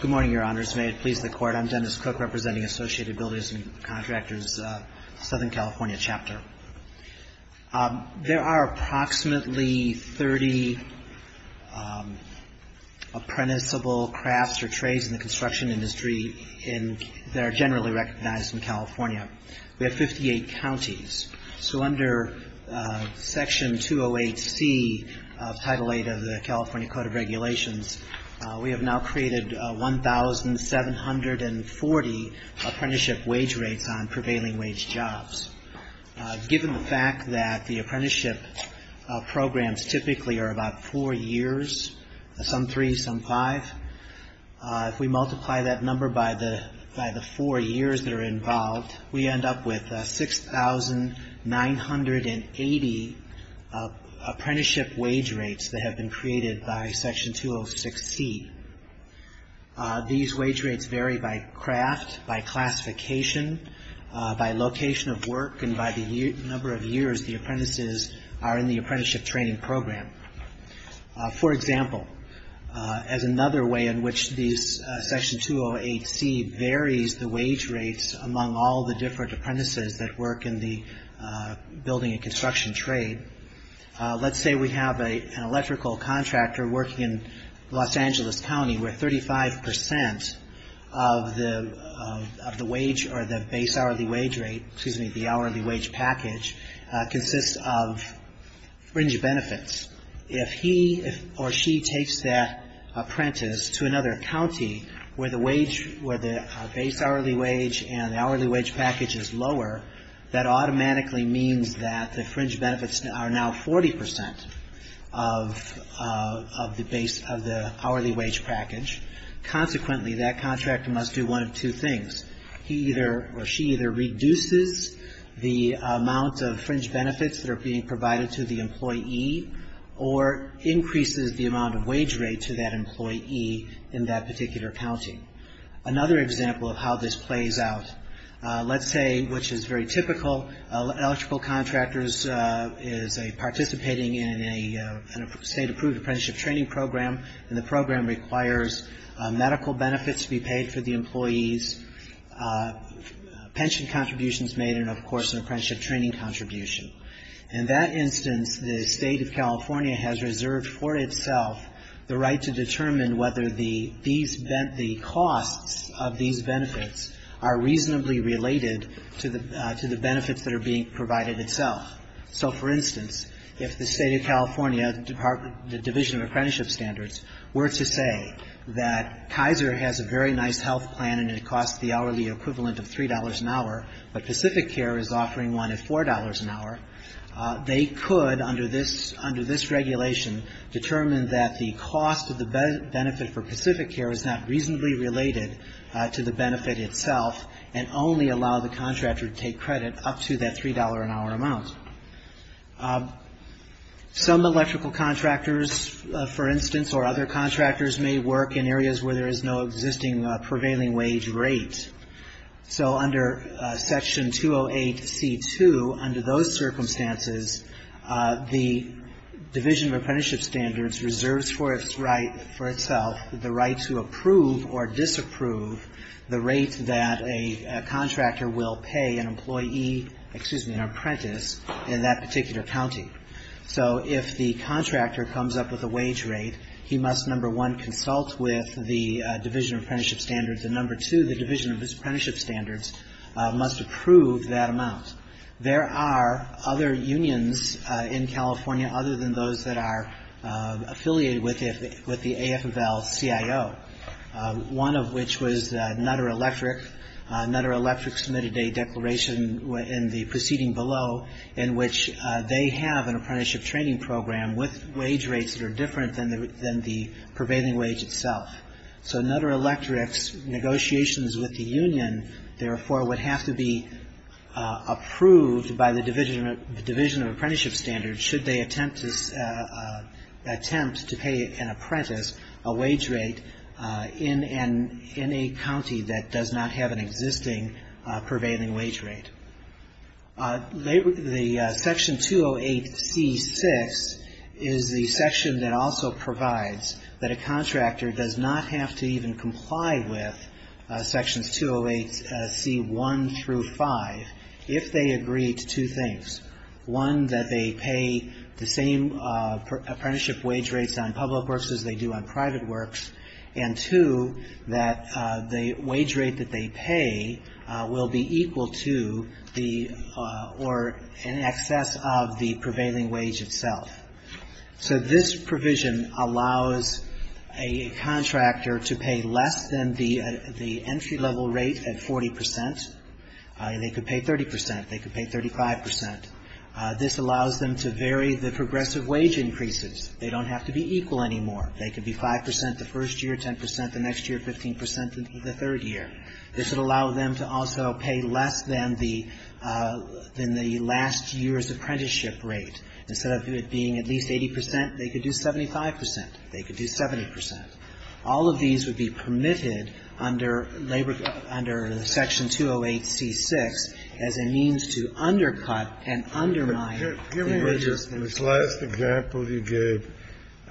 Good morning, Your Honors. May it please the Court. I'm Dennis Cook representing Associated Builders and Contractors, Southern California Chapter. There are approximately 30 apprenticeable crafts or trades in the construction industry that are generally recognized in California. We have 58 counties. So under Section 208C, Title VIII of the California Code of Regulations, we have now created 1,740 apprenticeship wage rates on prevailing wage jobs. Given the fact that the apprenticeship programs typically are about four years, some three, some five, if we multiply that number by the four years that are involved, we end up with 6,980 apprenticeship wage rates that have been created by Section 206C. These wage rates vary by craft, by classification, by location of work, and by the number of years the apprentices are in the apprenticeship training program. For example, as another way in which Section 208C varies the wage rates among all the different apprentices that work in the building and construction trade, let's say we have an electrical contractor working in Los Angeles County where 35% of the wage or the base hourly wage rate, excuse me, the hourly wage package, consists of fringe benefits. If he or she takes that apprentice to another county where the wage, where the base hourly wage and the hourly wage package is lower, that automatically means that the fringe benefits are now 40% of the base, of the hourly wage package. Consequently, that contractor must do one of two things. He either or she either reduces the amount of fringe benefits that are being provided to the employee or increases the amount of wage rate to that employee in that particular county. Another example of how this plays out, let's say, which is very typical, electrical contractors is participating in a state-approved apprenticeship training program, and the program requires medical benefits to be paid for the employees, pension contributions made, and of course an apprenticeship training contribution. In that instance, the State of California has reserved for itself the right to determine whether the costs of these benefits are reasonably related to the benefits that are being provided itself. So, for instance, if the State of California, the Division of Apprenticeship Standards, were to say that Kaiser has a very nice health plan and it costs the hourly equivalent of $3 an hour, but PacificCare is offering one at $4 an hour, they could, under this regulation, determine that the cost of the benefit for PacificCare is not reasonably related to the benefit itself and only allow the contractor to take credit up to that $3 an hour amount. Some electrical contractors, for instance, or other contractors may work in areas where there is no existing prevailing wage rate. So, under Section 208C2, under those circumstances, the Division of Apprenticeship Standards reserves for its right, for itself, the right to approve or disapprove the rate that a contractor will pay an employee, excuse me, an apprentice in that particular county. So, if the contractor comes up with a wage rate, he must, number one, consult with the Division of Apprenticeship Standards, and number two, the Division of Apprenticeship Standards must approve that amount. There are other unions in California other than those that are affiliated with the AFL-CIO, one of which was Nutter Electric. Nutter Electric submitted a declaration in the proceeding below in which they have an apprenticeship training program with wage rates that are different than the prevailing wage itself. So, Nutter Electric's negotiations with the union, therefore, would have to be approved by the Division of Apprenticeship Standards should they attempt to pay an apprentice a wage rate in a county that does not have an existing prevailing wage rate. The Section 208C6 is the section that also provides that a contractor does not have to even comply with Sections 208C1 through 5 if they agree to two things. One, that they pay the same apprenticeship wage rates on public works as they do on private works, and two, that the wage rate that they pay will be equal to the or in excess of the prevailing wage itself. So, this provision allows a contractor to pay less than the entry-level rate at 40 percent. They could pay 30 percent. They could pay 35 percent. This allows them to vary the progressive wage increases. They don't have to be equal anymore. They could be 5 percent the first year, 10 percent the next year, 15 percent in the third year. This would allow them to also pay less than the last year's apprenticeship rate. Instead of it being at least 80 percent, they could do 75 percent. They could do 70 percent. All of these would be permitted under Section 208C6 as a means to undercut and undermine the enrichments. This last example you gave,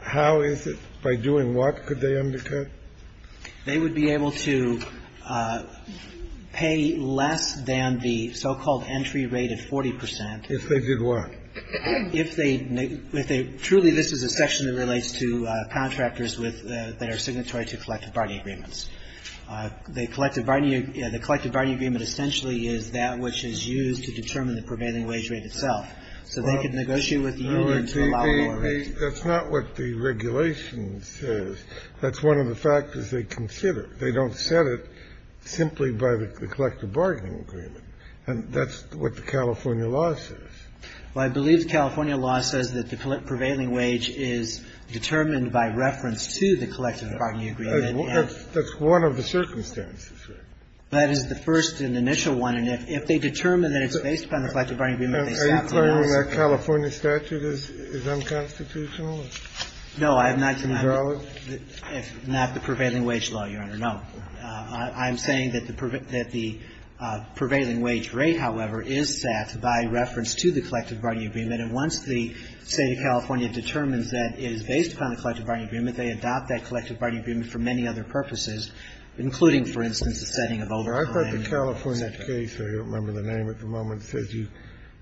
how is it, by doing what could they undercut? They would be able to pay less than the so-called entry rate at 40 percent. If they did what? If they truly, this is a section that relates to contractors that are signatory to collective bargaining agreements. The collective bargaining agreement essentially is that which is used to determine the prevailing wage rate itself. So they could negotiate with the union to allow more rates. That's not what the regulation says. That's one of the factors they consider. They don't set it simply by the collective bargaining agreement. And that's what the California law says. Well, I believe the California law says that the prevailing wage is determined by reference to the collective bargaining agreement. That's one of the circumstances, right? That is the first and initial one. And if they determine that it's based upon the collective bargaining agreement, they stop the process. Are you claiming that California statute is unconstitutional? No, I'm not. It's invalid? It's not the prevailing wage law, Your Honor. No. I'm saying that the prevailing wage rate, however, is set by reference to the collective bargaining agreement. And once the State of California determines that it is based upon the collective bargaining agreement, they adopt that collective bargaining agreement for many other purposes, including, for instance, the setting of overcrowding. I thought the California case, I don't remember the name at the moment, says you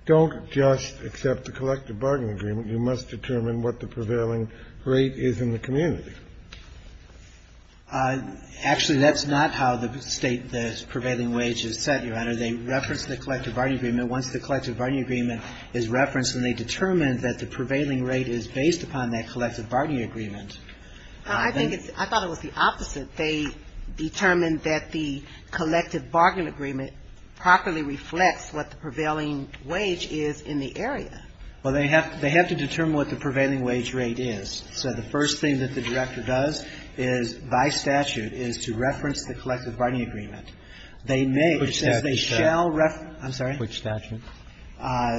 don't just accept the collective bargaining agreement. You must determine what the prevailing rate is in the community. Actually, that's not how the State, the prevailing wage is set, Your Honor. They reference the collective bargaining agreement. Once the collective bargaining agreement is referenced and they determine that the prevailing rate is based upon that collective bargaining agreement. I think it's – I thought it was the opposite. They determine that the collective bargaining agreement properly reflects what the prevailing wage is in the area. Well, they have to determine what the prevailing wage rate is. So the first thing that the director does is, by statute, is to reference the collective bargaining agreement. They may – Which statute, sir? I'm sorry? Which statute?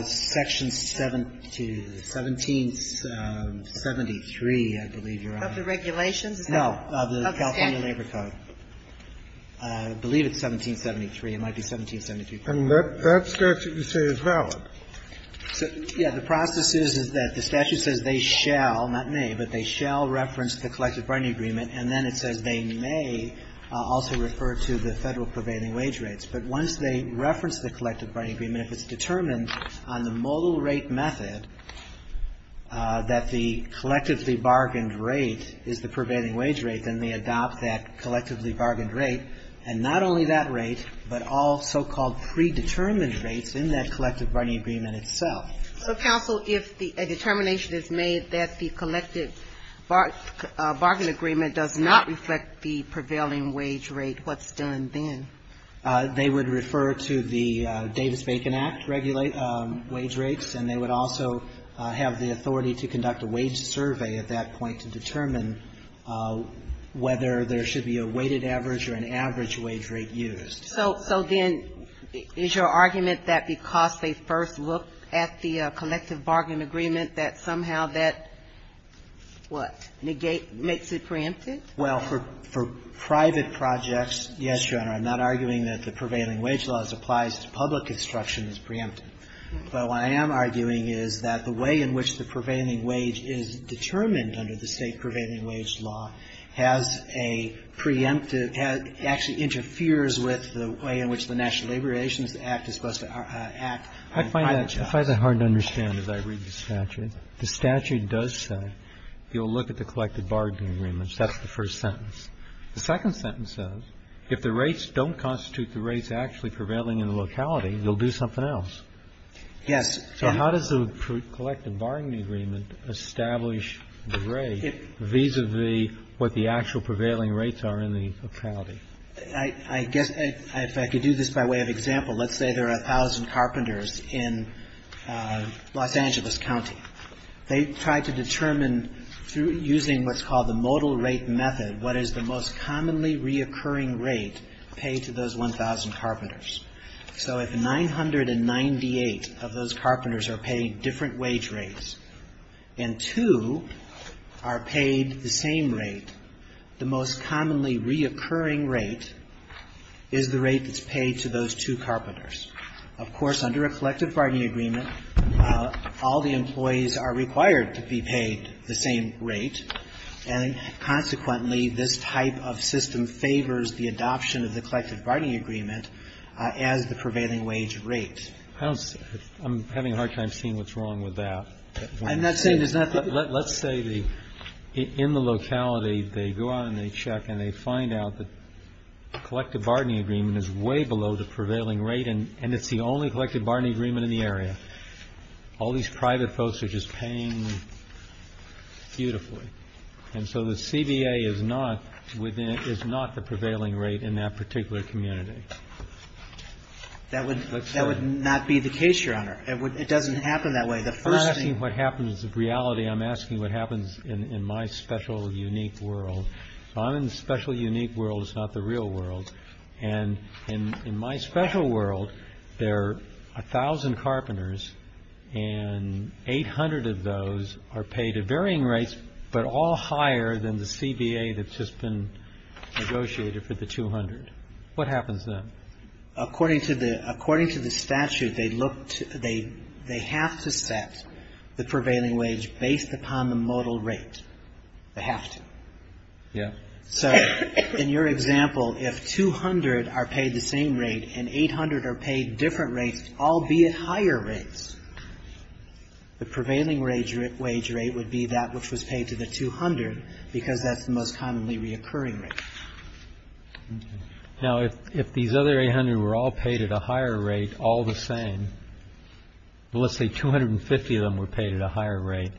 Section 1773, I believe, Your Honor. Of the regulations? No. Of the California Labor Code. Okay. I believe it's 1773. It might be 1773. And that statute you say is valid? Yeah. The process is that the statute says they shall, not may, but they shall reference the collective bargaining agreement, and then it says they may also refer to the Federal prevailing wage rates. But once they reference the collective bargaining agreement, if it's determined on the modal rate method that the collectively bargained rate is the prevailing wage rate, then they adopt that collectively bargained rate, and not only that rate, but all so-called predetermined rates in that collective bargaining agreement itself. So, counsel, if a determination is made that the collective bargaining agreement does not reflect the prevailing wage rate, what's done then? They would refer to the Davis-Bacon Act wage rates, and they would also have the authority to conduct a wage survey at that point to determine whether there should be a weighted average or an average wage rate used. So then is your argument that because they first look at the collective bargaining agreement, that somehow that, what, negates, makes it preempted? Well, for private projects, yes, Your Honor, I'm not arguing that the prevailing wage laws applies to public construction as preempted. But what I am arguing is that the way in which the prevailing wage is determined under the state prevailing wage law has a preemptive, actually interferes with the way in which the National Labor Relations Act is supposed to act on private jobs. I find that hard to understand as I read the statute. The statute does say you'll look at the collective bargaining agreements. That's the first sentence. The second sentence says if the rates don't constitute the rates actually prevailing in the locality, you'll do something else. Yes. So how does the collective bargaining agreement establish the rate vis-à-vis what the actual prevailing rates are in the locality? I guess if I could do this by way of example, let's say there are a thousand carpenters in Los Angeles County. They try to determine through using what's called the modal rate method what is the most commonly reoccurring rate paid to those 1,000 carpenters. So if 998 of those carpenters are paid different wage rates and two are paid the same rate, the most commonly reoccurring rate is the rate that's paid to those two carpenters. Of course, under a collective bargaining agreement, all the employees are required to be paid the same rate. And consequently, this type of system favors the adoption of the collective bargaining agreement as the prevailing wage rate. I don't see. I'm having a hard time seeing what's wrong with that. I'm not saying there's nothing. Let's say in the locality they go out and they check and they find out that collective the only collective bargaining agreement in the area. All these private folks are just paying beautifully. And so the CBA is not the prevailing rate in that particular community. That would not be the case, Your Honor. It doesn't happen that way. I'm not asking what happens in reality. I'm asking what happens in my special, unique world. I'm in the special, unique world. It's not the real world. And in my special world, there are 1,000 carpenters, and 800 of those are paid at varying rates, but all higher than the CBA that's just been negotiated for the 200. What happens then? According to the statute, they have to set the prevailing wage based upon the modal rate. They have to. Yeah. So in your example, if 200 are paid the same rate and 800 are paid different rates, albeit higher rates, the prevailing wage rate would be that which was paid to the 200 because that's the most commonly reoccurring rate. Now, if these other 800 were all paid at a higher rate, all the same, let's say 250 of them were paid at a higher rate,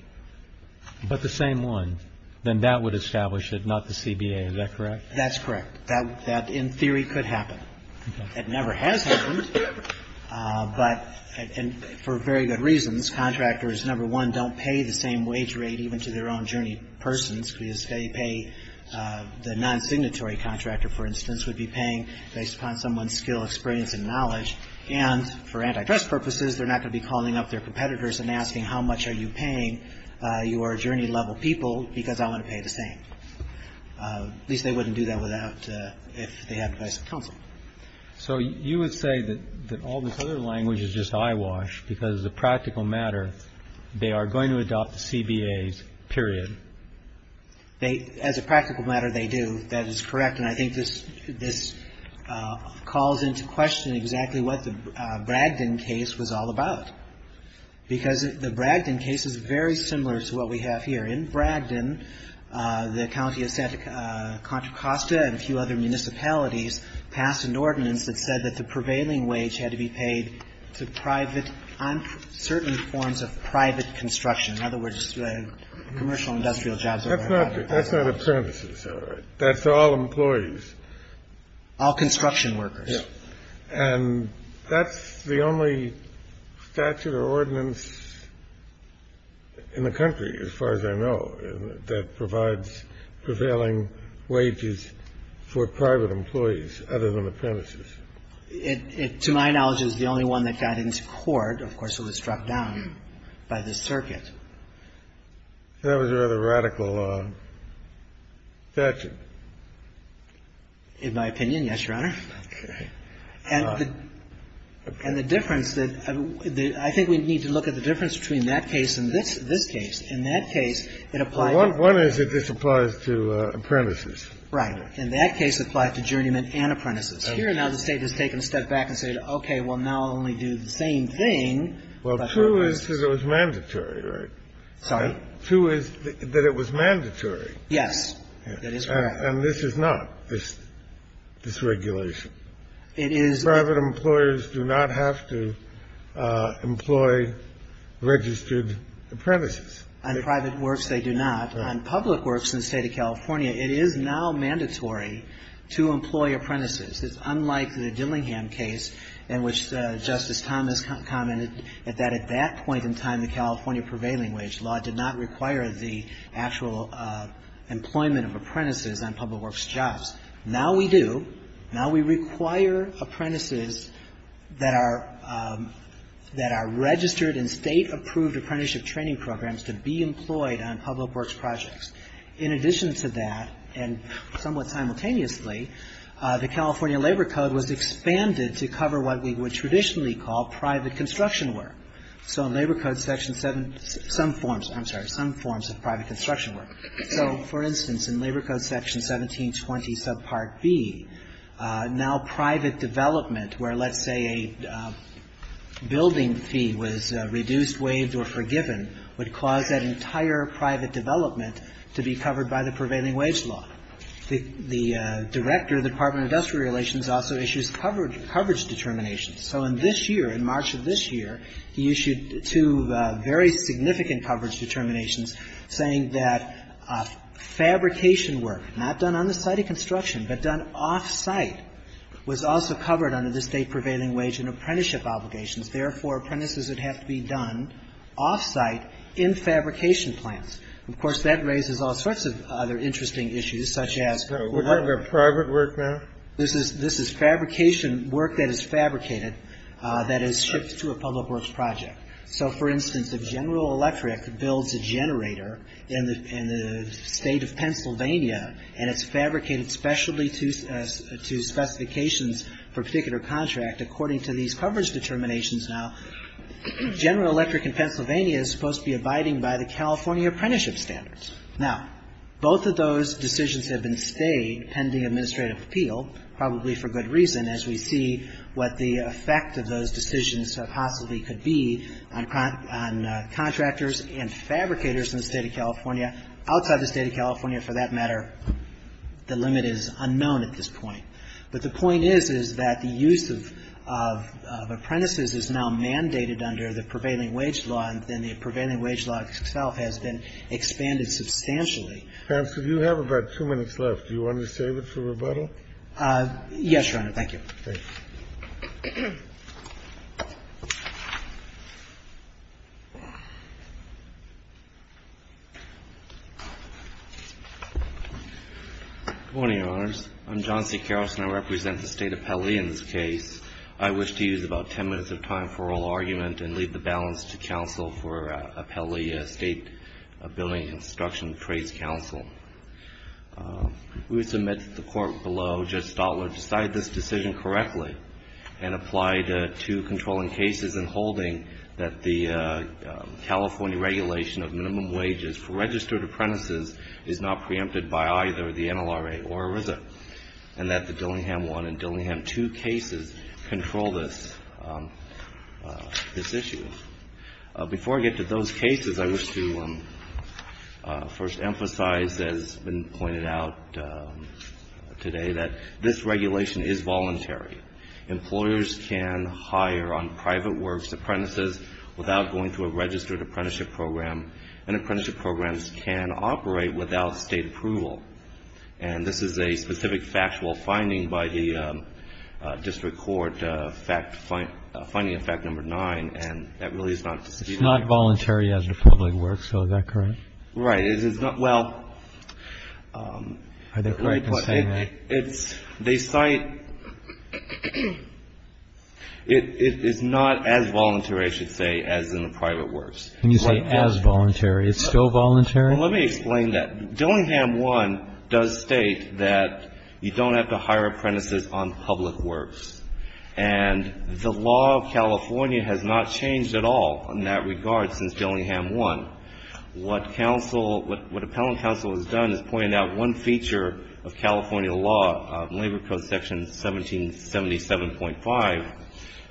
but the same one, then that would establish it, not the CBA. Is that correct? That's correct. That, in theory, could happen. It never has happened. But for very good reasons, contractors, number one, don't pay the same wage rate even to their own journey persons because they pay the non-signatory contractor, for instance, would be paying based upon someone's skill, experience, and knowledge. And for antitrust purposes, they're not going to be calling up their competitors and asking how much are you paying your journey-level people because I want to pay the same. At least they wouldn't do that without the advice of counsel. So you would say that all this other language is just eyewash because, as a practical matter, they are going to adopt the CBAs, period. As a practical matter, they do. That is correct. And I think this calls into question exactly what the Bragdon case was all about because the Bragdon case is very similar to what we have here. In Bragdon, the county of Santa Contra Costa and a few other municipalities passed an ordinance that said that the prevailing wage had to be paid to private on certain forms of private construction. In other words, commercial and industrial jobs. That's not a premise, is it? That's all employees. All construction workers. Yes. And that's the only statute or ordinance in the country, as far as I know, that provides prevailing wages for private employees other than apprentices. It, to my knowledge, is the only one that got into court. Of course, it was struck down by the circuit. And that was a rather radical statute. In my opinion, yes, Your Honor. Okay. And the difference that the — I think we need to look at the difference between that case and this case. In that case, it applied to — Well, one is that this applies to apprentices. Right. In that case, it applied to journeymen and apprentices. Here, now, the State has taken a step back and said, okay, well, now I'll only do the same thing. Well, two is that it was mandatory, right? Sorry? Two is that it was mandatory. Yes. That is correct. And this is not, this regulation. It is. Private employers do not have to employ registered apprentices. On private works, they do not. On public works in the State of California, it is now mandatory to employ apprentices. It's unlike the Dillingham case in which Justice Thomas commented that at that point in time, the California Prevailing Wage Law did not require the actual employment of apprentices on public works jobs. Now we do. Now we require apprentices that are registered in State-approved apprenticeship training programs to be employed on public works projects. In addition to that, and somewhat simultaneously, the California Labor Code was expanded to cover what we would traditionally call private construction work. So in Labor Code Section 7, some forms, I'm sorry, some forms of private construction work. So, for instance, in Labor Code Section 1720 subpart B, now private development, where let's say a building fee was reduced, waived, or forgiven, would cause that entire private development to be covered by the Prevailing Wage Law. The Director of the Department of Industrial Relations also issues coverage determinations. So in this year, in March of this year, he issued two very significant coverage determinations saying that fabrication work, not done on the site of construction but done off-site, was also covered under the State Prevailing Wage and apprenticeship obligations. Therefore, apprentices would have to be done off-site in fabrication plants. Of course, that raises all sorts of other interesting issues, such as... This isn't private work, ma'am? This is fabrication work that is fabricated that is shipped to a public works project. So, for instance, if General Electric builds a generator in the State of Pennsylvania and it's fabricated specially to specifications for a particular contract, according to these coverage determinations now, General Electric in Pennsylvania is supposed to be abiding by the California apprenticeship standards. Now, both of those decisions have been stayed pending administrative appeal, probably for good reason, as we see what the effect of those decisions possibly could be on contractors and fabricators in the State of California. Outside the State of California, for that matter, the limit is unknown at this point. But the point is, is that the use of apprentices is now mandated under the Prevailing Wage law, and then the Prevailing Wage law itself has been expanded substantially. Perhaps if you have about two minutes left, do you want to save it for rebuttal? Yes, Your Honor. Thank you. Good morning, Your Honors. I'm John C. Carrollson. I represent the State Appellee in this case. I wish to use about ten minutes of time for oral argument and leave the balance to counsel for Appellee State Building Construction Trades Council. We would submit to the Court below, Judge Stotler, decide this decision correctly and apply the two controlling cases in holding that the California regulation of minimum wages for registered apprentices is not preempted by either the NLRA or ERISA, and that the Dillingham 1 and Dillingham 2 cases control this issue. Before I get to those cases, I wish to first emphasize, as has been pointed out today, that this regulation is voluntary. Employers can hire on private works apprentices without going through a registered apprenticeship program, and apprenticeship programs can operate without State approval. And this is a specific factual finding by the district court, finding of fact number nine, and that really is not a decision I have. It's not voluntary as a public work, so is that correct? Right. Well, it's not as voluntary, I should say, as in the private works. You say as voluntary. It's still voluntary? Well, let me explain that. Dillingham 1 does state that you don't have to hire apprentices on public works, and the law of California has not changed at all in that regard since Dillingham What appellant counsel has done is pointed out one feature of California law, Labor Code Section 1777.5,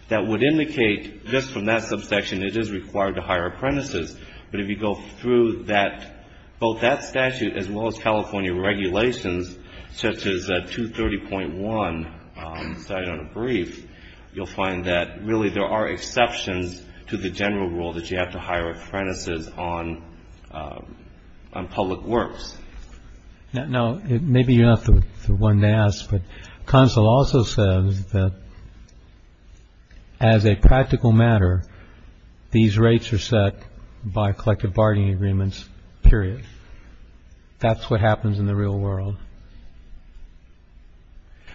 that would indicate just from that subsection, it is required to hire apprentices. But if you go through both that statute as well as California regulations, such as 230.1 cited on the brief, you'll find that really there are exceptions to the general rule that you have to hire apprentices on public works. Now, maybe you're not the one to ask, but counsel also says that as a practical matter, these rates are set by collective bargaining agreements, period. That's what happens in the real world.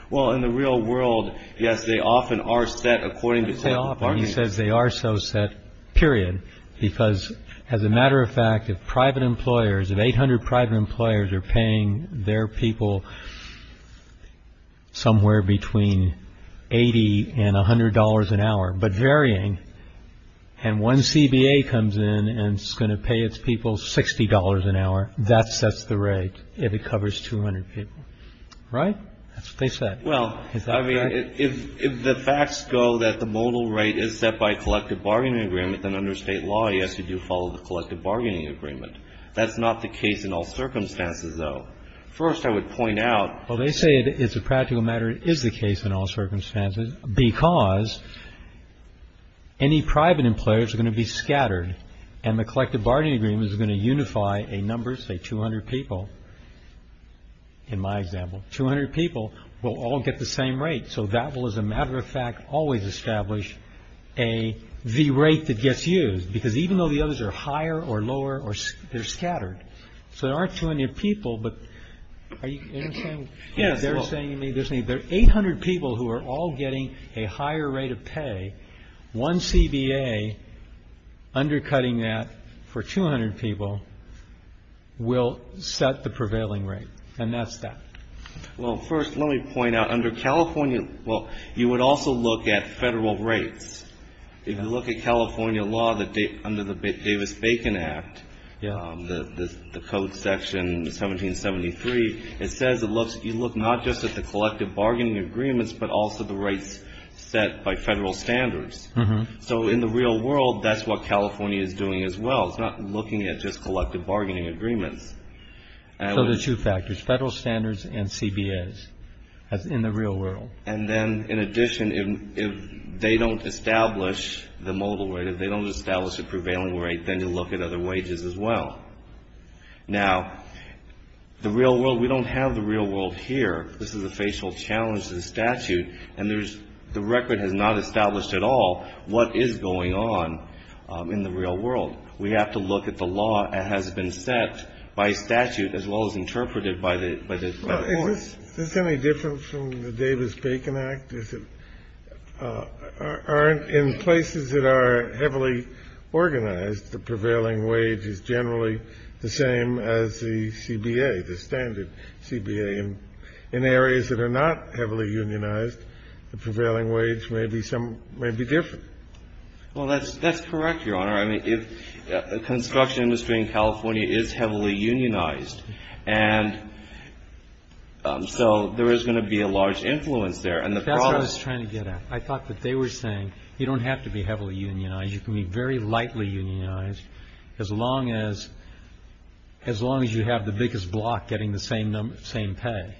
Well, in the real world, yes, they often are set according to collective bargaining agreements. He says they are so set, period, because as a matter of fact, if private employers, if 800 private employers are paying their people somewhere between 80 and $100 an hour, but varying, and one CBA comes in and is going to pay its people $60 an hour, that sets the rate if it covers 200 people. Right? That's what they said. Well, I mean, if the facts go that the modal rate is set by collective bargaining agreement, then under state law, yes, you do follow the collective bargaining agreement. That's not the case in all circumstances, though. First, I would point out. Well, they say as a practical matter, it is the case in all circumstances, because any private employers are going to be scattered, and the collective bargaining agreement is going to unify a number, say, 200 people, in my example. 200 people will all get the same rate, so that will, as a matter of fact, always establish the rate that gets used, because even though the others are higher or lower, they're scattered, so there aren't 200 people, but are you saying? Yes. They're saying there are 800 people who are all getting a higher rate of pay. One CBA undercutting that for 200 people will set the prevailing rate, and that's that. Well, first, let me point out, under California, well, you would also look at federal rates. If you look at California law under the Davis-Bacon Act, the code section 1773, it says you look not just at the collective bargaining agreements, but also the rates set by federal standards. So in the real world, that's what California is doing as well. It's not looking at just collective bargaining agreements. So there are two factors, federal standards and CBAs, in the real world. And then, in addition, if they don't establish the modal rate, if they don't establish the prevailing rate, then you look at other wages as well. Now, the real world, we don't have the real world here. This is a facial challenge to the statute. And there's the record has not established at all what is going on in the real world. We have to look at the law as it has been set by statute as well as interpreted by the court. Is this any different from the Davis-Bacon Act? Is it in places that are heavily organized, the prevailing wage is generally the same as the CBA, the standard CBA? In areas that are not heavily unionized, the prevailing wage may be different. Well, that's correct, Your Honor. I mean, the construction industry in California is heavily unionized. And so there is going to be a large influence there. And the problem is that- That's what I was trying to get at. I thought that they were saying you don't have to be heavily unionized. You can be very lightly unionized as long as you have the biggest block getting the same pay.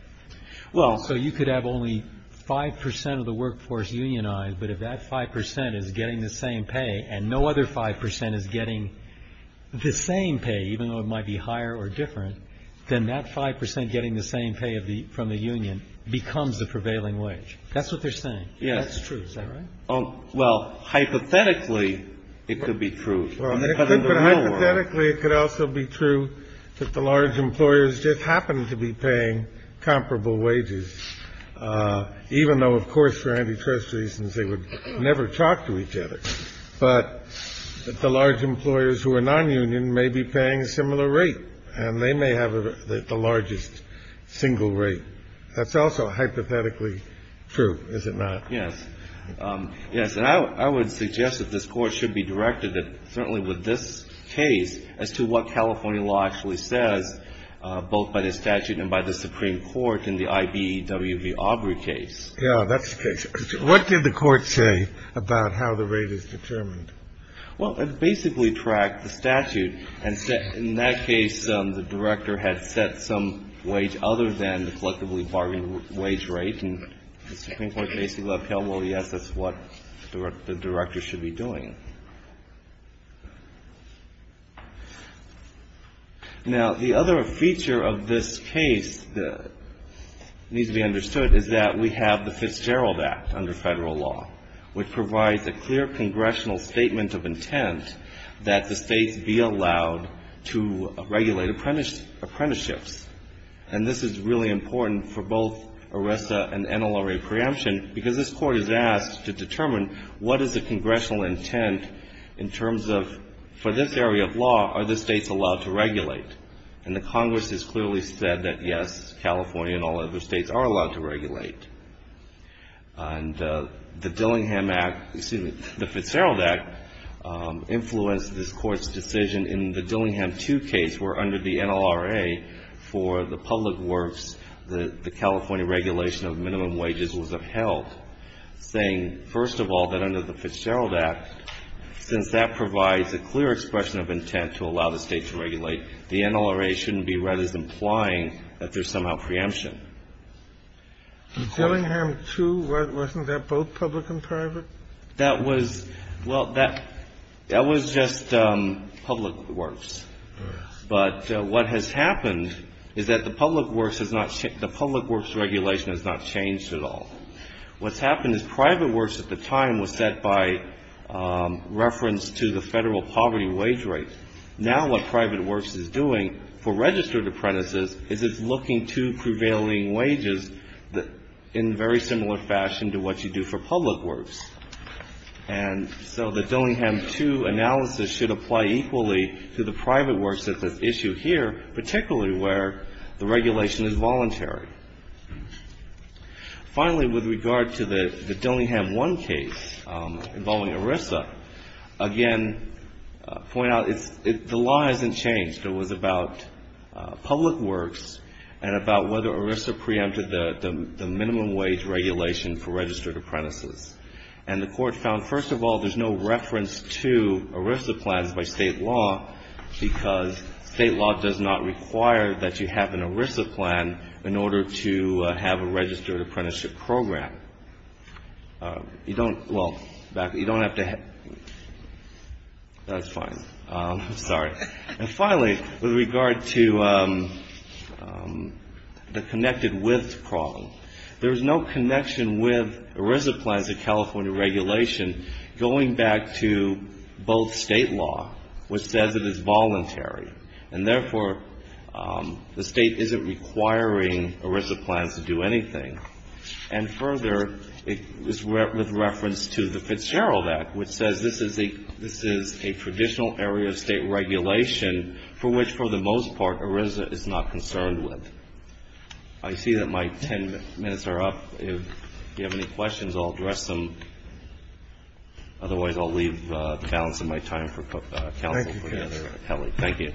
So you could have only 5% of the workforce unionized, but if that 5% is getting the same pay and no other 5% is getting the same pay, even though it might be higher or different, then that 5% getting the same pay from the union becomes the prevailing wage. That's what they're saying. That's true. Is that right? Well, hypothetically, it could be true. Hypothetically, it could also be true that the large employers just happen to be paying comparable wages, even though, of course, for antitrust reasons, they would never talk to each other. But the large employers who are nonunion may be paying a similar rate, and they may have the largest single rate. That's also hypothetically true, is it not? Yes. Yes, and I would suggest that this Court should be directed certainly with this case as to what California law actually says, both by the statute and by the Supreme Court in the I.B.E.W.B. Aubrey case. Yes, that's the case. What did the Court say about how the rate is determined? Well, it basically tracked the statute, and in that case, the director had set some wage other than the collectively bargained wage rate, and the Supreme Court basically upheld, well, yes, that's what the director should be doing. Now, the other feature of this case that needs to be understood is that we have the Fitzgerald Act under federal law, which provides a clear congressional statement of intent that the states be allowed to regulate apprenticeships. And this is really important for both ERISA and NLRA preemption, because this Court is asked to determine what is the congressional intent in terms of, for this area of law, are the states allowed to regulate? And the Congress has clearly said that, yes, California and all other states are allowed to regulate. And the Dillingham Act, excuse me, the Fitzgerald Act, influenced this Court's decision in the Dillingham 2 case where, under the NLRA, for the public works, the California regulation of minimum wages was upheld, saying, first of all, that under the Fitzgerald Act, since that provides a clear expression of intent to allow the state to regulate, the NLRA shouldn't be read as implying that there's somehow preemption. Dillingham 2, wasn't that both public and private? That was, well, that was just public works. But what has happened is that the public works regulation has not changed at all. What's happened is private works at the time was set by reference to the federal poverty wage rate. Now what private works is doing for registered apprentices is it's looking to prevailing wages in very similar fashion to what you do for public works. And so the Dillingham 2 analysis should apply equally to the private works that's at issue here, particularly where the regulation is voluntary. Finally, with regard to the Dillingham 1 case involving ERISA, again, point out it's the law hasn't changed. It was about public works and about whether ERISA preempted the minimum wage regulation for registered apprentices. And the Court found, first of all, there's no reference to ERISA plans by state law, because state law does not require that you have an ERISA plan in order to have a registered apprenticeship program. You don't, well, you don't have to, that's fine. I'm sorry. And finally, with regard to the connected with problem, there is no connection with ERISA plans of California regulation going back to both state law, which says it is voluntary. And therefore, the state isn't requiring ERISA plans to do anything. And further, it is with reference to the Fitzgerald Act, which says this is a traditional area of state regulation for which, for the most part, ERISA is not concerned with. I see that my ten minutes are up. If you have any questions, I'll address them. Otherwise, I'll leave the balance of my time for counsel for the other. Thank you.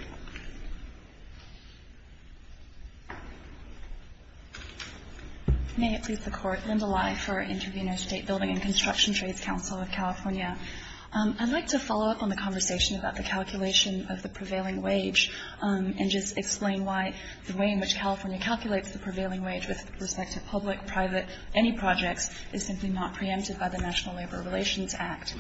May it please the Court. Linda Lye for Intervenor State Building and Construction Trades Council of California. I'd like to follow up on the conversation about the calculation of the prevailing wage and just explain why the way in which California calculates the prevailing wage with respect to public, private, any projects is simply not preempted by the National Labor Relations Act.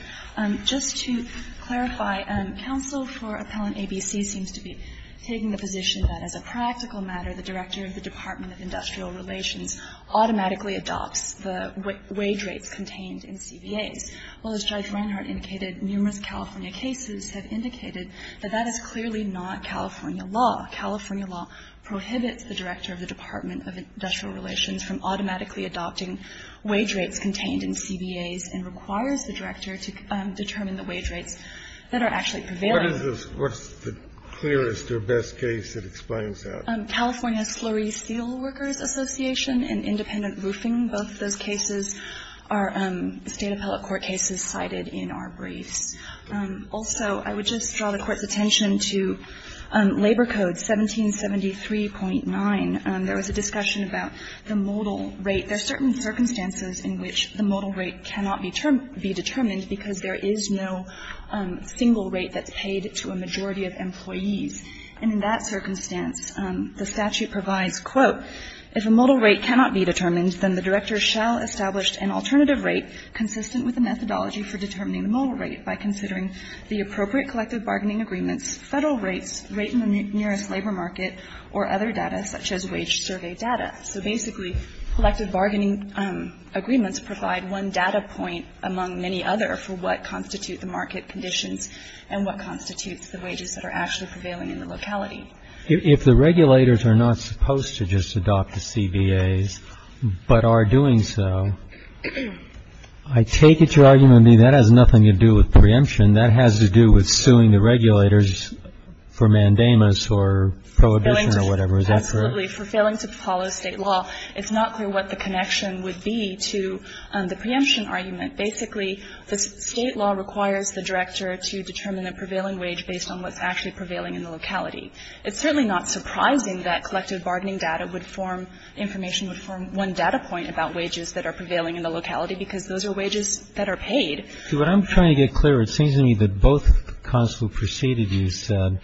Just to clarify, counsel for Appellant ABC seems to be taking the position that, as a practical matter, the director of the Department of Industrial Relations automatically adopts the wage rates contained in CBAs. Well, as Judge Reinhardt indicated, numerous California cases have indicated that that is clearly not California law. California law prohibits the director of the Department of Industrial Relations from automatically adopting wage rates contained in CBAs and requires the director to determine the wage rates that are actually prevailing. What is the clearest or best case that explains that? California Slurry Steelworkers Association and independent roofing. Both of those cases are State appellate court cases cited in our briefs. Also, I would just draw the Court's attention to Labor Code 1773.9. There was a discussion about the modal rate. There are certain circumstances in which the modal rate cannot be determined because there is no single rate that's paid to a majority of employees. And in that circumstance, the statute provides, quote, if a modal rate cannot be determined, then the director shall establish an alternative rate consistent with the methodology for determining the modal rate by considering the appropriate collective bargaining agreements, Federal rates, rate in the nearest labor market, or other data such as wage survey data. So basically, collective bargaining agreements provide one data point among many other for what constitute the market conditions and what constitutes the wages that are actually prevailing in the locality. If the regulators are not supposed to just adopt the CBAs but are doing so, I take it your argument would be that has nothing to do with preemption. And that has to do with suing the regulators for mandamus or prohibition or whatever. Is that correct? Absolutely. For failing to follow State law, it's not clear what the connection would be to the preemption argument. Basically, the State law requires the director to determine the prevailing wage based on what's actually prevailing in the locality. It's certainly not surprising that collective bargaining data would form, information would form one data point about wages that are prevailing in the locality because those are wages that are paid. See, what I'm trying to get clear, it seems to me that both counsels who preceded you said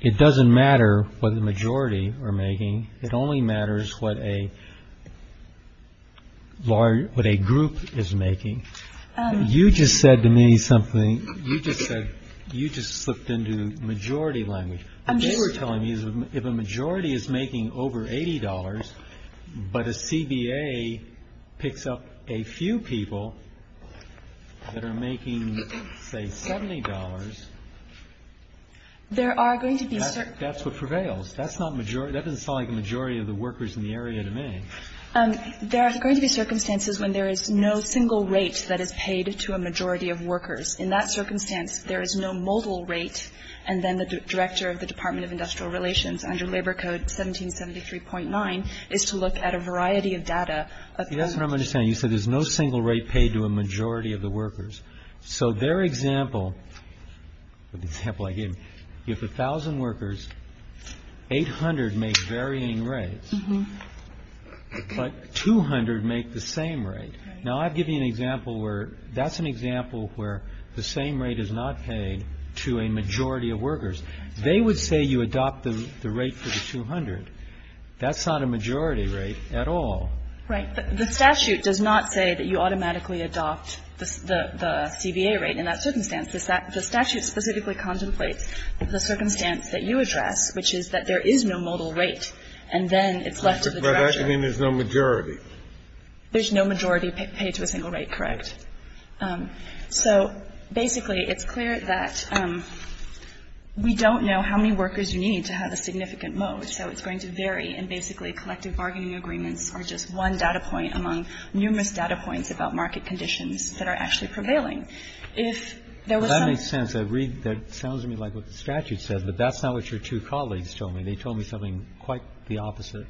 it doesn't matter what the majority are making. It only matters what a group is making. You just said to me something. You just said you just slipped into majority language. What they were telling me is if a majority is making over $80 but a CBA picks up a few people that are making, say, $70, that's what prevails. That's not majority. That doesn't sound like a majority of the workers in the area to me. There are going to be circumstances when there is no single rate that is paid to a majority of workers. In that circumstance, there is no modal rate, and then the director of the Department of Industrial Relations under Labor Code 1773.9 is to look at a variety of data. That's what I'm understanding. You said there's no single rate paid to a majority of the workers. So their example, the example I gave, you have 1,000 workers, 800 make varying rates, but 200 make the same rate. Now, I've given you an example where that's an example where the same rate is not paid to a majority of workers. They would say you adopt the rate for the 200. That's not a majority rate at all. Right. The statute does not say that you automatically adopt the CBA rate in that circumstance. The statute specifically contemplates the circumstance that you address, which is that there is no modal rate, and then it's left to the director. By that, you mean there's no majority. There's no majority paid to a single rate, correct. So basically, it's clear that we don't know how many workers you need to have a significant So it's going to vary. And basically, collective bargaining agreements are just one data point among numerous data points about market conditions that are actually prevailing. That makes sense. That sounds to me like what the statute says, but that's not what your two colleagues told me. They told me something quite the opposite.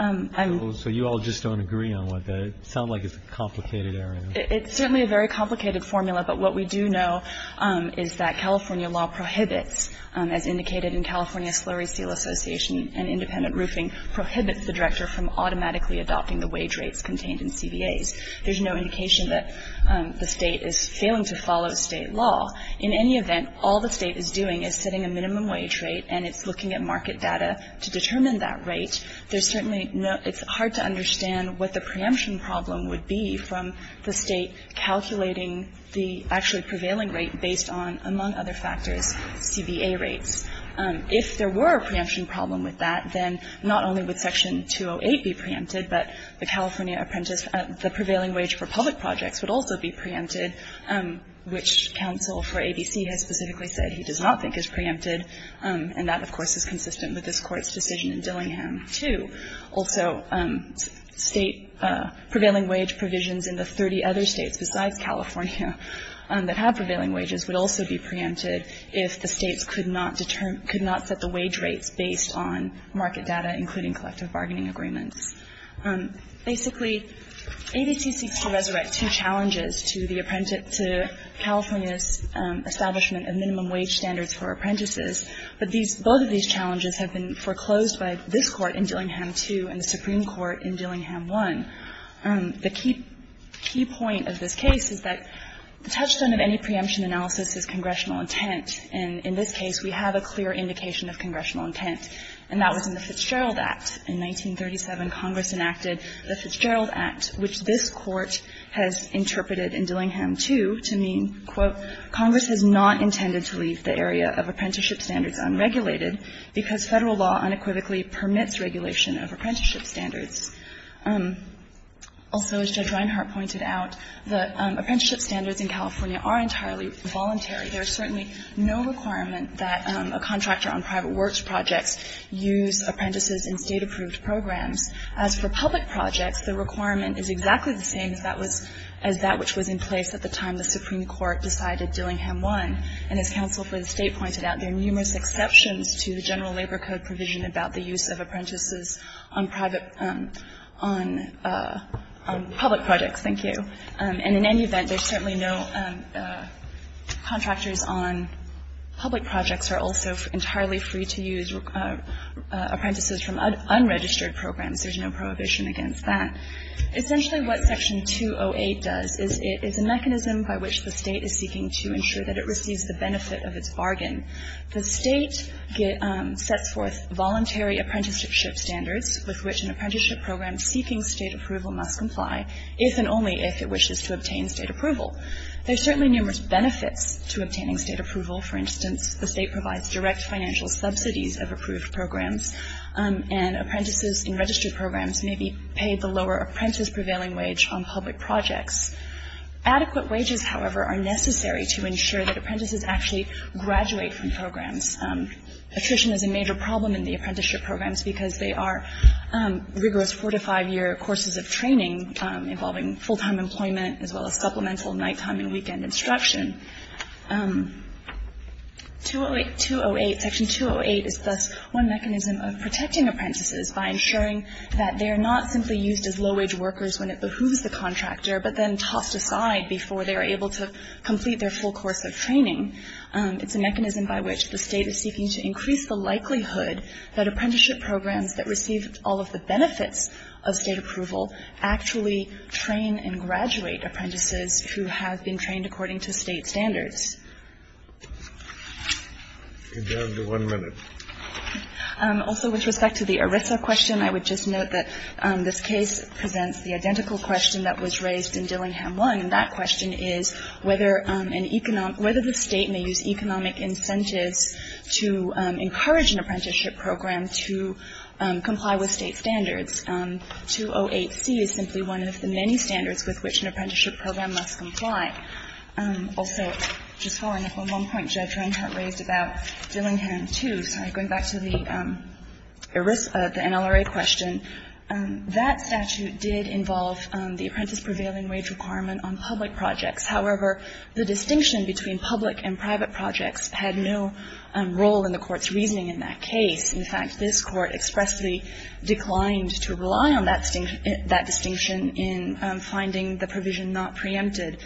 So you all just don't agree on what that is. It sounds like it's a complicated area. It's certainly a very complicated formula, but what we do know is that California law prohibits, as indicated in California Slurry Seal Association and Independent Roofing, prohibits the director from automatically adopting the wage rates contained in CBAs. There's no indication that the State is failing to follow State law. In any event, all the State is doing is setting a minimum wage rate, and it's looking at market data to determine that rate. There's certainly no – it's hard to understand what the preemption problem would be from the State calculating the actually prevailing rate based on, among other factors, CBA rates. If there were a preemption problem with that, then not only would Section 208 be preempted, but the California Apprentice – the prevailing wage for public projects would also be preempted, which counsel for ABC has specifically said he does not think is preempted, and that, of course, is consistent with this Court's decision in Dillingham to also State prevailing wage provisions in the 30 other States besides California that have prevailing wages would also be preempted if the States could not determine – could not set the wage rates based on market data, including collective bargaining agreements. Basically, ABC seeks to resurrect two challenges to the – to California's establishment of minimum wage standards for apprentices, but these – both of these challenges have been foreclosed by this Court in Dillingham 2 and the Supreme Court in Dillingham 1. The key point of this case is that the touchstone of any preemption analysis is congressional intent, and in this case, we have a clear indication of congressional intent, and that was in the Fitzgerald Act. In 1937, Congress enacted the Fitzgerald Act, which this Court has interpreted in Dillingham 2 to mean, quote, Congress has not intended to leave the area of apprenticeship standards unregulated because Federal law unequivocally permits regulation of apprenticeship standards. Also, as Judge Reinhart pointed out, the apprenticeship standards in California are entirely voluntary. There is certainly no requirement that a contractor on private works projects use apprentices in State-approved programs. As for public projects, the requirement is exactly the same as that was – as that in Dillingham 1, and as counsel for the State pointed out, there are numerous exceptions to the general labor code provision about the use of apprentices on private – on public projects. Thank you. And in any event, there's certainly no – contractors on public projects are also entirely free to use apprentices from unregistered programs. There's no prohibition against that. Essentially, what Section 208 does is it's a mechanism by which the State is seeking to ensure that it receives the benefit of its bargain. The State sets forth voluntary apprenticeship standards with which an apprenticeship program seeking State approval must comply if and only if it wishes to obtain State approval. There's certainly numerous benefits to obtaining State approval. For instance, the State provides direct financial subsidies of approved programs, and apprentices in registered programs may be paid the lower apprentice-prevailing wage on public projects. Adequate wages, however, are necessary to ensure that apprentices actually graduate from programs. Attrition is a major problem in the apprenticeship programs because they are rigorous four- to five-year courses of training involving full-time employment as well as supplemental nighttime and weekend instruction. 208 – Section 208 is thus one mechanism of protecting apprentices by ensuring that they are not simply used as low-wage workers when it behooves the contractor, but then tossed aside before they are able to complete their full course of training. It's a mechanism by which the State is seeking to increase the likelihood that apprenticeship programs that receive all of the benefits of State approval actually train and graduate apprentices who have been trained according to State standards. Could you have one minute? Also, with respect to the ERISA question, I would just note that this case presents the identical question that was raised in Dillingham 1, and that question is whether an economic – whether the State may use economic incentives to encourage an apprenticeship program to comply with State standards. 208C is simply one of the many standards with which an apprenticeship program must comply. Also, just following up on one point Judge Reinhart raised about Dillingham 2, going back to the NLRA question, that statute did involve the apprentice prevailing wage requirement on public projects. However, the distinction between public and private projects had no role in the Court's reasoning in that case. In fact, this Court expressly declined to rely on that distinction in finding the provision not preempted.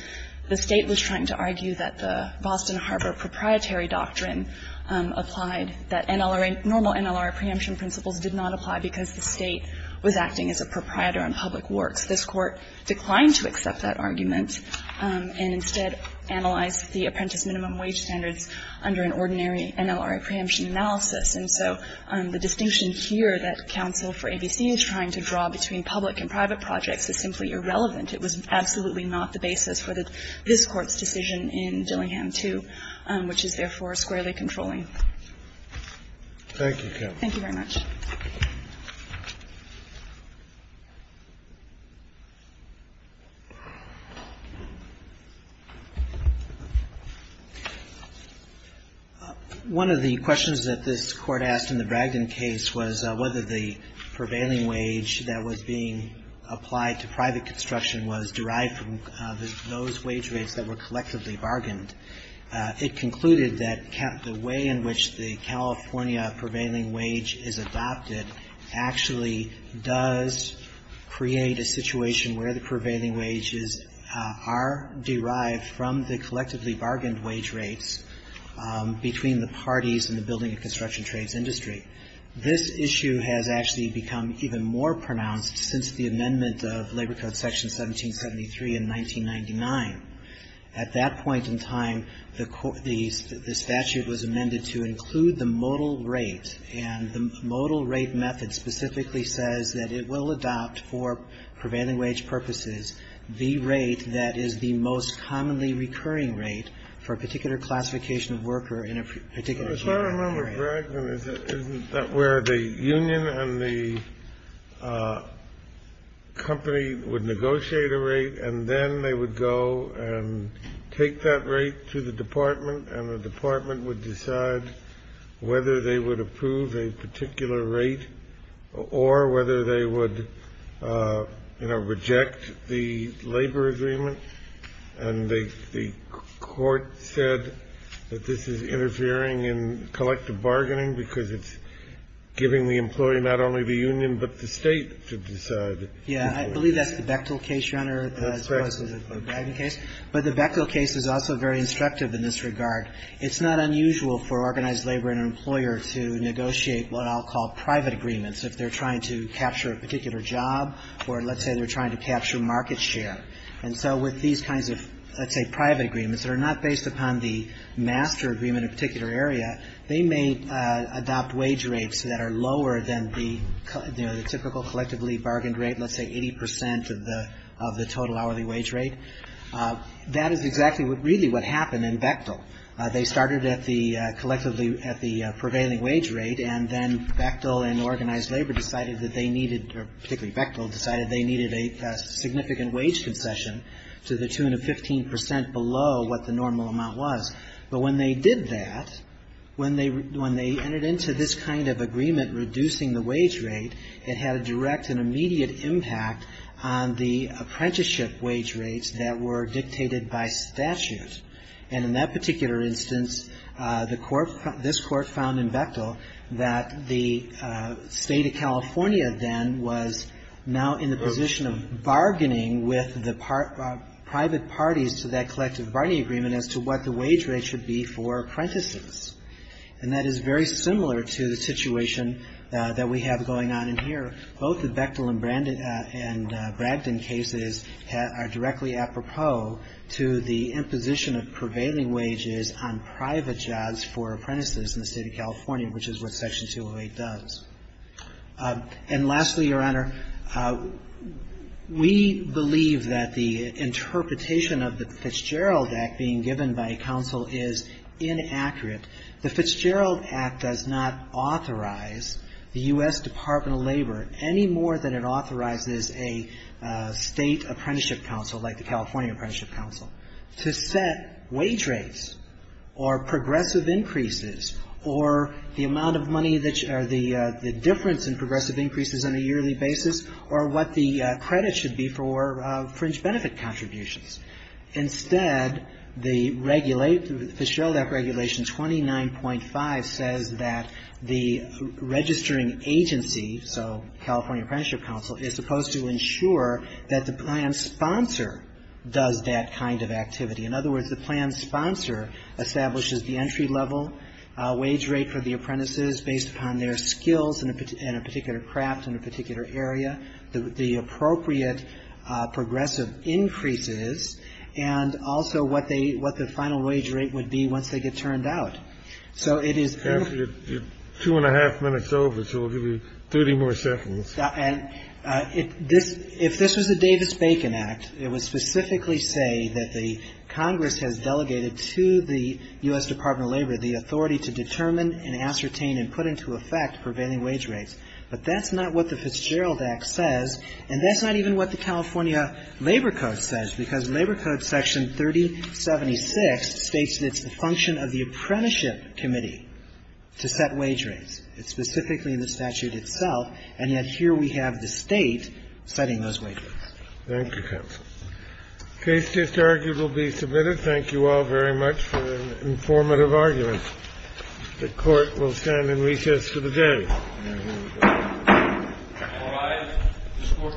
The State was trying to argue that the Boston Harbor proprietary doctrine applied that NLRA – normal NLRA preemption principles did not apply because the State was acting as a proprietor on public works. This Court declined to accept that argument and instead analyzed the apprentice minimum wage standards under an ordinary NLRA preemption analysis. And so the distinction here that counsel for ABC is trying to draw between public and private projects is simply irrelevant. It was absolutely not the basis for this Court's decision in Dillingham 2, which is therefore squarely controlling. Thank you, Kathleen. Thank you very much. One of the questions that this Court asked in the Bragdon case was whether the prevailing wage that was being applied to private construction was derived from those wage rates that were collectively bargained. It concluded that the way in which the California prevailing wage is adopted actually does create a situation where the prevailing wages are derived from the collectively bargained wage rates between the parties in the building and construction trades industry. This issue has actually become even more pronounced since the amendment of Labor Code Section 1773 in 1999. At that point in time, the statute was amended to include the modal rate, and the modal rate method specifically says that it will adopt for prevailing wage purposes the rate that is the most commonly recurring rate for a particular classification of worker in a particular area. I don't remember Bragdon. Isn't that where the union and the company would negotiate a rate, and then they would go and take that rate to the department, and the department would decide whether they would approve a particular rate or whether they would reject the labor agreement? And the Court said that this is interfering in collective bargaining because it's giving the employee not only the union but the State to decide. Yeah. I believe that's the Bechtel case, Your Honor, as opposed to the Bragdon case. But the Bechtel case is also very instructive in this regard. It's not unusual for organized labor and an employer to negotiate what I'll call private agreements if they're trying to capture a particular job or, let's say, they're trying to capture market share. And so with these kinds of, let's say, private agreements that are not based upon the master agreement of a particular area, they may adopt wage rates that are lower than the typical collectively bargained rate, let's say 80 percent of the total hourly wage rate. That is exactly really what happened in Bechtel. They started at the prevailing wage rate, and then Bechtel and organized labor decided that they needed, particularly Bechtel, decided they needed a significant wage concession to the 215 percent below what the normal amount was. But when they did that, when they entered into this kind of agreement reducing the wage rate, it had a direct and immediate impact on the apprenticeship wage rates that were dictated by statute. And in that particular instance, the Court, this Court found in Bechtel that the State of California then was now in the position of bargaining with the private parties to that collective bargaining agreement as to what the wage rate should be for apprentices. And that is very similar to the situation that we have going on in here. Both the Bechtel and Bragdon cases are directly apropos to the imposition of prevailing wages on private jobs for apprentices in the State of California, which is what Section 208 does. And lastly, Your Honor, we believe that the interpretation of the Fitzgerald Act being given by counsel is inaccurate. The Fitzgerald Act does not authorize the U.S. Department of Labor any more than it authorizes a State Apprenticeship Council like the California Apprenticeship Council to set wage rates or progressive increases or the amount of money that or the difference in progressive increases on a yearly basis or what the credit should be for fringe benefit contributions. Instead, the regulate, the Fitzgerald Act Regulation 29.5 says that the registering agency, so California Apprenticeship Council, is supposed to ensure that the plan sponsor does that kind of activity. In other words, the plan sponsor establishes the entry level wage rate for the apprentices based upon their skills in a particular craft in a particular area, the appropriate progressive increases, and also what they what the final wage rate would be once they get turned out. So it is. Kennedy, you're two and a half minutes over, so we'll give you 30 more seconds. And if this was the Davis-Bacon Act, it would specifically say that the Congress has delegated to the U.S. Department of Labor the authority to determine and ascertain and put into effect prevailing wage rates. But that's not what the Fitzgerald Act says, and that's not even what the California Labor Code says, because Labor Code section 3076 states that it's the function of the apprenticeship committee to set wage rates. It's specifically in the statute itself, and yet here we have the State setting those wage rates. Thank you, counsel. The case just argued will be submitted. Thank you all very much for an informative argument. The Court will stand in recess for the day. All rise. This court will recess and return.